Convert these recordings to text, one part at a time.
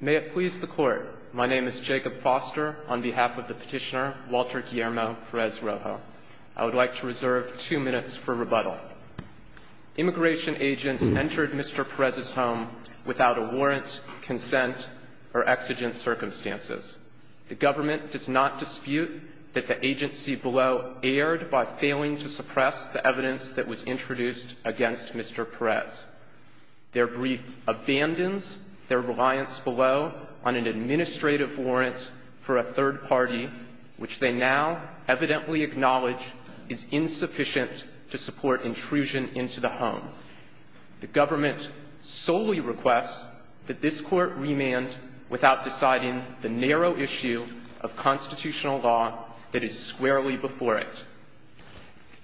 May it please the Court, my name is Jacob Foster on behalf of the petitioner Walter Guillermo Perez-Rojo. I would like to reserve two minutes for rebuttal. Immigration agents entered Mr. Perez's home without a warrant, consent, or exigent circumstances. The government does not dispute that the agency below erred by failing to suppress the evidence that was introduced against Mr. Perez. Their brief abandons their reliance below on an administrative warrant for a third party, which they now evidently acknowledge is insufficient to support intrusion into the home. The government solely requests that this Court remand without deciding the narrow issue of constitutional law that is squarely before it.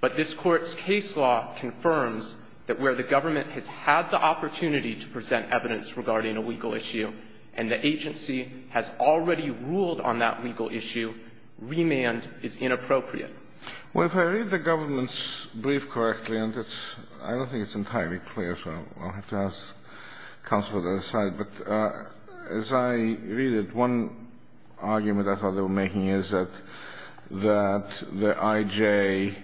But this Court's case law confirms that where the government has had the opportunity to present evidence regarding a legal issue, and the agency has already ruled on that legal issue, remand is inappropriate. Well, if I read the government's brief correctly, and it's — I don't think it's entirely clear, so I'll have to ask counsel to decide, but as I read it, one argument I thought they were making is that the I.J.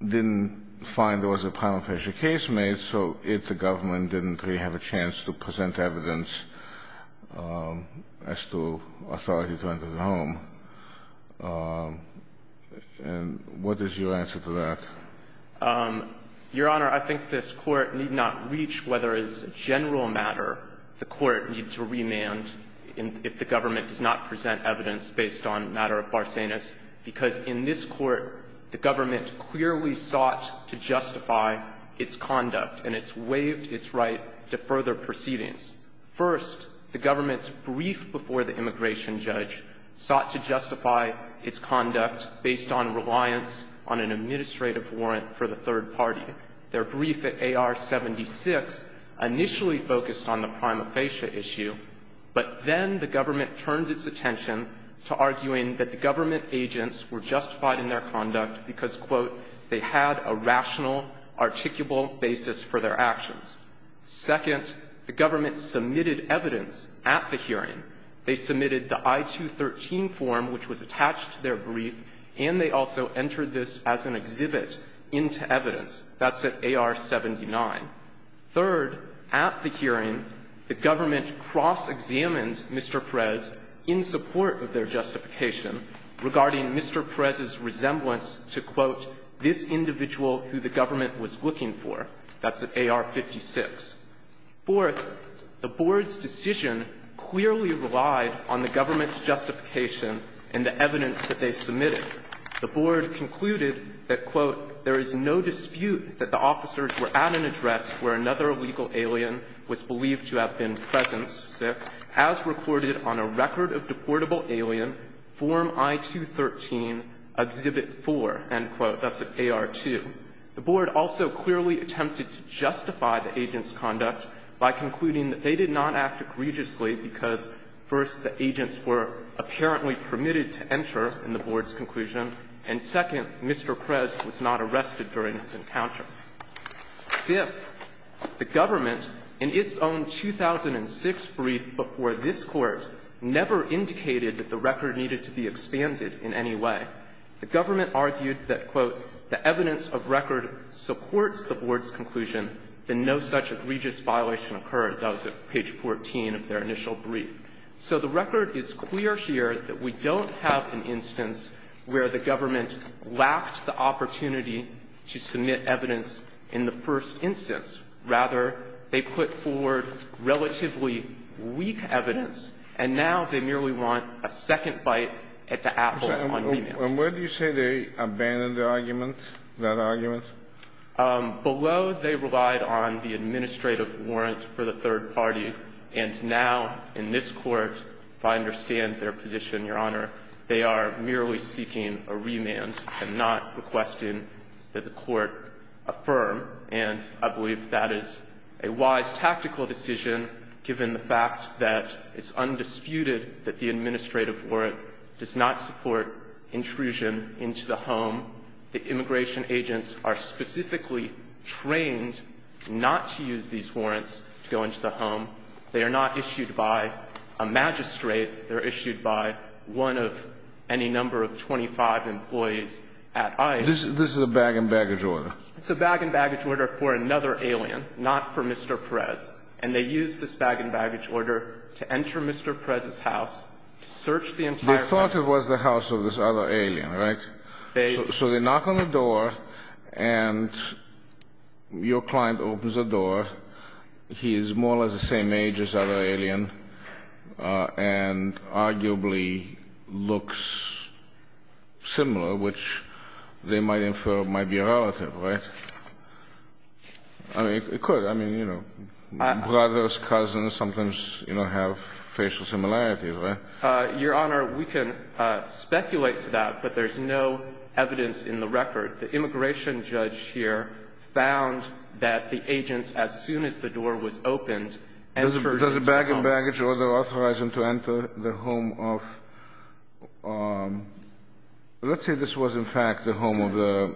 didn't find there was a prima facie case made, so it, the government, didn't really have a chance to present evidence as to authority to enter the home. And what is your answer to that? Your Honor, I think this Court need not reach whether as a general matter the Court needs to remand if the government does not present evidence based on a matter of barcenas, because in this Court, the government clearly sought to justify its conduct, and it's waived its right to further proceedings. First, the government's brief before the immigration judge sought to justify its conduct based on reliance on an administrative warrant for the third party. Their brief at AR-76 initially focused on the prima facie issue, but then the government turned its attention to arguing that the government agents were justified in their conduct because, quote, they had a rational, articulable basis for their actions. Second, the government submitted evidence at the hearing. They submitted the I-213 form, which was attached to their brief, and they also entered this as an exhibit into evidence. That's at AR-79. Third, at the hearing, the government cross-examined Mr. Perez in support of their justification regarding Mr. Perez's resemblance to, quote, this individual who the government was looking for. That's at AR-56. Fourth, the Board's decision clearly relied on the government's justification and the evidence that they submitted. The Board concluded that, quote, there is no dispute that the officers were at an address where another illegal alien was believed to have been present, say, as recorded on a record of deportable alien, Form I-213, Exhibit 4. End quote. That's at AR-2. The Board also clearly attempted to justify the agents' conduct by concluding that they did not act egregiously because, first, the agents were apparently permitted to enter in the Board's conclusion, and, second, Mr. Perez was not arrested during this encounter. Fifth, the government, in its own 2006 brief before this Court, never indicated that the record needed to be expanded in any way. The government argued that, quote, the evidence of record supports the Board's conclusion that no such egregious violation occurred. That was at page 14 of their initial brief. So the record is clear here that we don't have an instance where the government lacked the opportunity to submit evidence in the first instance. Rather, they put forward relatively weak evidence, and now they merely want a second bite at the apple on the map. Kennedy. And where do you say they abandoned the argument, that argument? Below they relied on the administrative warrant for the third party, and now, in this Court, if I understand their position, Your Honor, they are merely seeking a remand and not requesting that the Court affirm. And I believe that is a wise tactical decision, given the fact that it's undisputed that the administrative warrant does not support intrusion into the home. The immigration agents are specifically trained not to use these warrants to go into the home. They are not issued by a magistrate. They're issued by one of any number of 25 employees at ICE. This is a bag-and-baggage order. It's a bag-and-baggage order for another alien, not for Mr. Perez. And they used this bag-and-baggage order to enter Mr. Perez's house, to search the entire house. They thought it was the house of this other alien, right? So they knock on the door, and your client opens the door. He is more or less the same age as the other alien and arguably looks similar, which they might infer might be a relative, right? I mean, it could. I mean, you know, brothers, cousins sometimes, you know, have facial similarities, right? Your Honor, we can speculate to that, but there's no evidence in the record. The immigration judge here found that the agent, as soon as the door was opened, entered into the home. Does a bag-and-baggage order authorize him to enter the home of the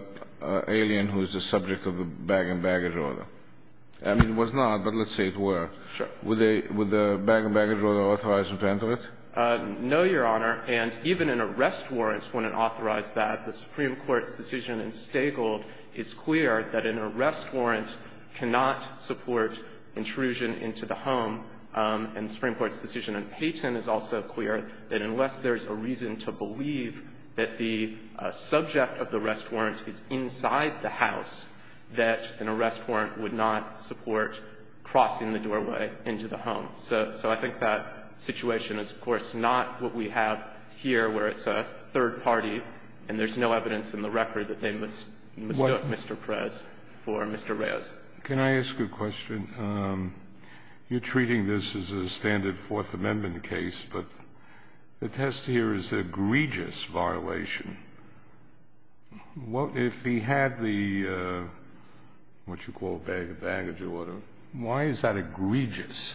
alien who is the subject of the bag-and-baggage order? I mean, it was not, but let's say it were. Sure. Would the bag-and-baggage order authorize him to enter it? No, Your Honor. And even an arrest warrant wouldn't authorize that. The Supreme Court's decision in Staggold is clear that an arrest warrant cannot support intrusion into the home. And the Supreme Court's decision in Payton is also clear that unless there's a reason to believe that the subject of the arrest warrant is inside the house, that an arrest warrant would not support crossing the doorway into the home. So I think that situation is, of course, not what we have here, where it's a third party and there's no evidence in the record that they mistook Mr. Perez for Mr. Reyes. Can I ask a question? You're treating this as a standard Fourth Amendment case, but the test here is an egregious violation. If he had the what you call bag-and-baggage order, why is that egregious?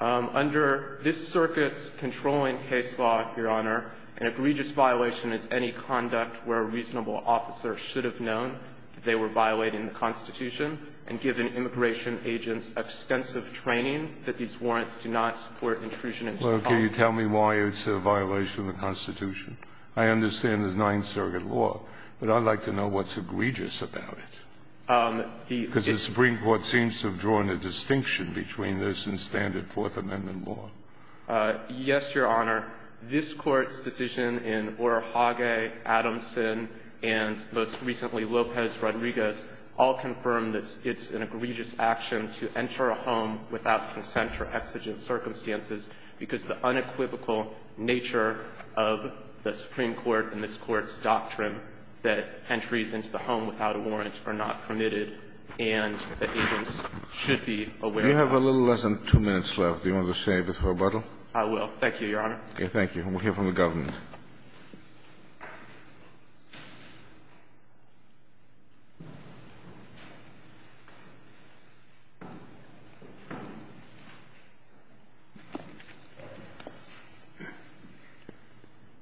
Under this circuit's controlling case law, Your Honor, an egregious violation is any conduct where a reasonable officer should have known that they were violating the Constitution and given immigration agents extensive training that these warrants do not support intrusion into the home. Well, can you tell me why it's a violation of the Constitution? I understand it's Ninth Circuit law, but I'd like to know what's egregious about it. Because the Supreme Court seems to have drawn a distinction between this and standard Fourth Amendment law. Yes, Your Honor. This Court's decision in Orohage, Adamson, and most recently Lopez-Rodriguez all confirm that it's an egregious action to enter a home without consent or exigent circumstances because the unequivocal nature of the Supreme Court and this Court's And the agents should be aware of that. You have a little less than two minutes left. Do you want to save it for rebuttal? I will. Thank you, Your Honor. Okay. Thank you. And we'll hear from the government.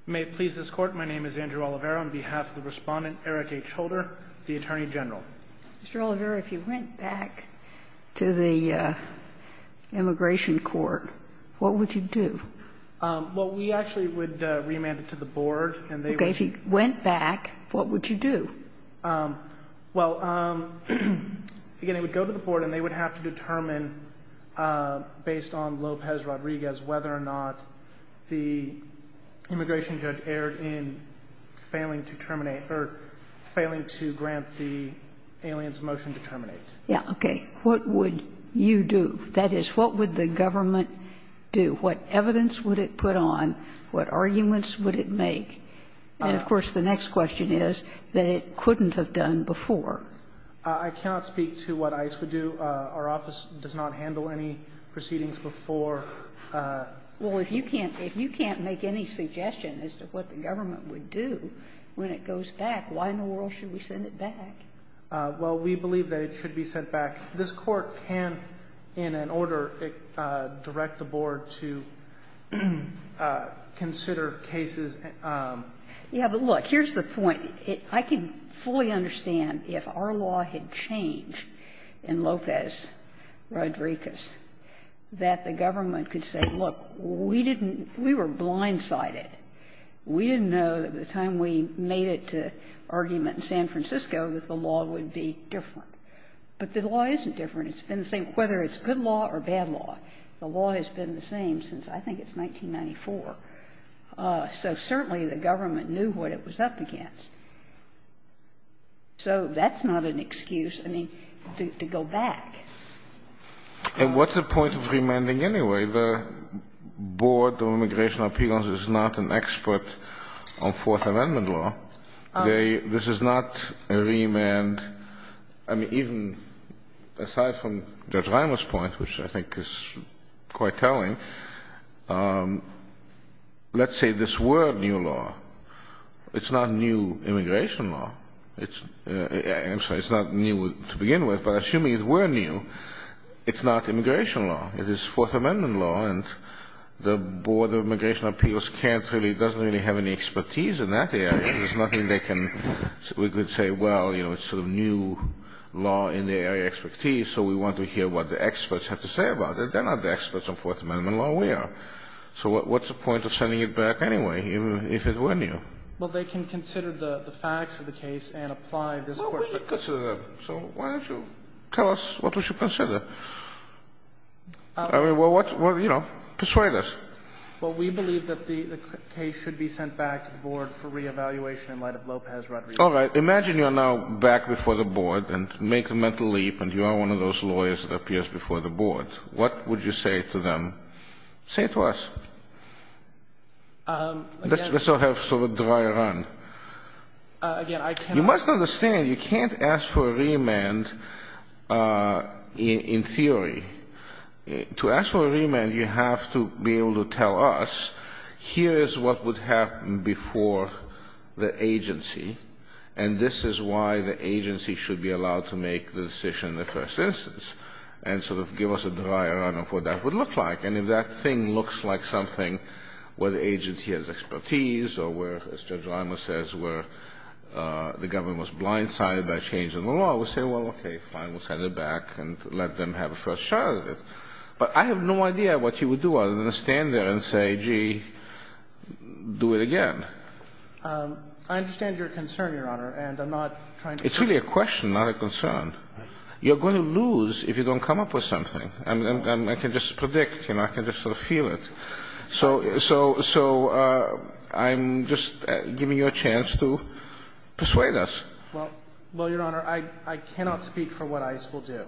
May it please this Court, my name is Andrew Oliveira. I'm here on behalf of the Respondent, Eric H. Holder, the Attorney General. Mr. Oliveira, if you went back to the immigration court, what would you do? Well, we actually would remand it to the board. Okay. If you went back, what would you do? Well, again, it would go to the board and they would have to determine, based on Lopez-Rodriguez, whether or not the immigration judge erred in failing to terminate or failing to grant the alien's motion to terminate. Yes. Okay. What would you do? That is, what would the government do? What evidence would it put on? What arguments would it make? And, of course, the next question is that it couldn't have done before. I cannot speak to what ICE would do. Our office does not handle any proceedings before. Well, if you can't make any suggestion as to what the government would do when it goes back, why in the world should we send it back? Well, we believe that it should be sent back. This Court can, in an order, direct the board to consider cases. Yeah. But, look, here's the point. I can fully understand if our law had changed in Lopez-Rodriguez, that the government could say, look, we didn't – we were blindsided. We didn't know that by the time we made it to argument in San Francisco that the law would be different. But the law isn't different. It's been the same whether it's good law or bad law. The law has been the same since, I think, it's 1994. So certainly the government knew what it was up against. So that's not an excuse, I mean, to go back. And what's the point of remanding anyway? The Board of Immigration Appeal is not an expert on Fourth Amendment law. They – this is not a remand. I mean, even aside from Judge Reimer's point, which I think is quite telling, let's say this were new law. It's not new immigration law. I'm sorry, it's not new to begin with. But assuming it were new, it's not immigration law. It is Fourth Amendment law, and the Board of Immigration Appeals can't really – doesn't really have any expertise in that area. There's nothing they can – we could say, well, you know, it's sort of new law in the area of expertise, so we want to hear what the experts have to say about it. They're not the experts on Fourth Amendment law. We are. So what's the point of sending it back anyway, even if it were new? Well, they can consider the facts of the case and apply this court to them. Well, we can consider them. So why don't you tell us what we should consider? I mean, well, what – you know, persuade us. Well, we believe that the case should be sent back to the board for reevaluation in light of Lopez-Rodriguez. All right. Imagine you're now back before the board and make a mental leap, and you are one of those lawyers that appears before the board. What would you say to them? Say it to us. Let's not have sort of a dry run. Again, I cannot – You must understand, you can't ask for a remand in theory. To ask for a remand, you have to be able to tell us, here is what would happen before the agency, and this is why the agency should be allowed to make the decision in the first instance, and sort of give us a dry run of what that would look like. And if that thing looks like something where the agency has expertise or where, as Judge Limer says, where the government was blindsided by a change in the law, we'll say, well, okay, fine. We'll send it back and let them have a first shot at it. But I have no idea what you would do other than stand there and say, gee, do it again. I understand your concern, Your Honor, and I'm not trying to – It's really a question, not a concern. You're going to lose if you don't come up with something. I can just predict. I can just sort of feel it. So I'm just giving you a chance to persuade us. Well, Your Honor, I cannot speak for what ICE will do.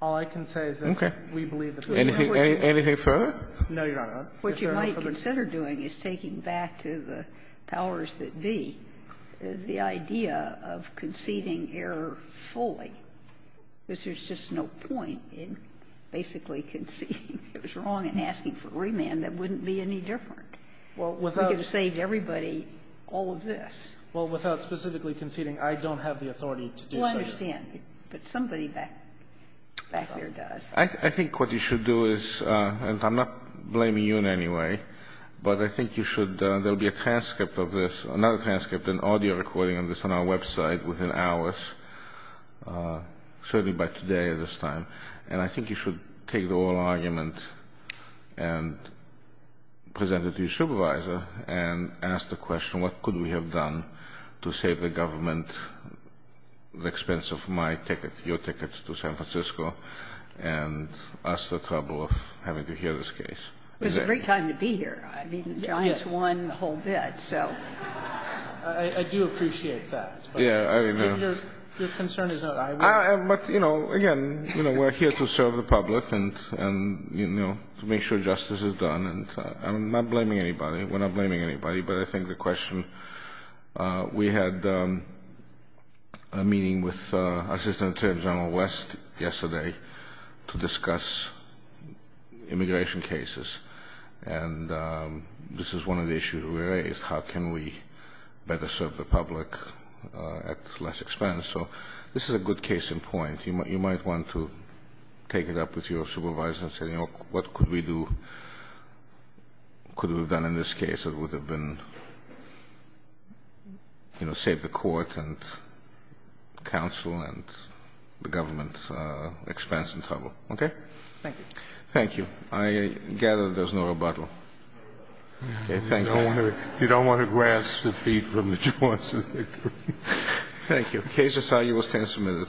All I can say is that we believe that there is no further – Anything further? No, Your Honor. What you might consider doing is taking back to the powers that be the idea of conceding error fully. There's just no point in basically conceding it was wrong and asking for remand that wouldn't be any different. Well, without – I would have saved everybody all of this. Well, without specifically conceding, I don't have the authority to do so. Well, I understand. But somebody back there does. I think what you should do is – and I'm not blaming you in any way. But I think you should – there will be a transcript of this, another transcript, an audio recording of this on our website within hours, certainly by today at this time. And I think you should take the whole argument and present it to your supervisor and ask the question, what could we have done to save the government the expense of my ticket, your ticket to San Francisco, and us the trouble of having to hear this case? It was a great time to be here. I mean, the Giants won the whole bit, so. I do appreciate that. Yeah. I mean, your concern is not I win. But, you know, again, we're here to serve the public and to make sure justice is done. And I'm not blaming anybody. We're not blaming anybody. But I think the question – we had a meeting with Assistant Attorney General West yesterday to discuss immigration cases. And this is one of the issues we raised, how can we better serve the public at less expense. So this is a good case in point. You might want to take it up with your supervisor and say, you know, what could we do? Could we have done in this case? It would have been, you know, save the court and counsel and the government expense and trouble. Okay? Thank you. Thank you. I gather there's no rebuttal. Okay. Thank you. You don't want to grasp the feet from the joints. Thank you. Thank you. Case is signed. You will stand a minute.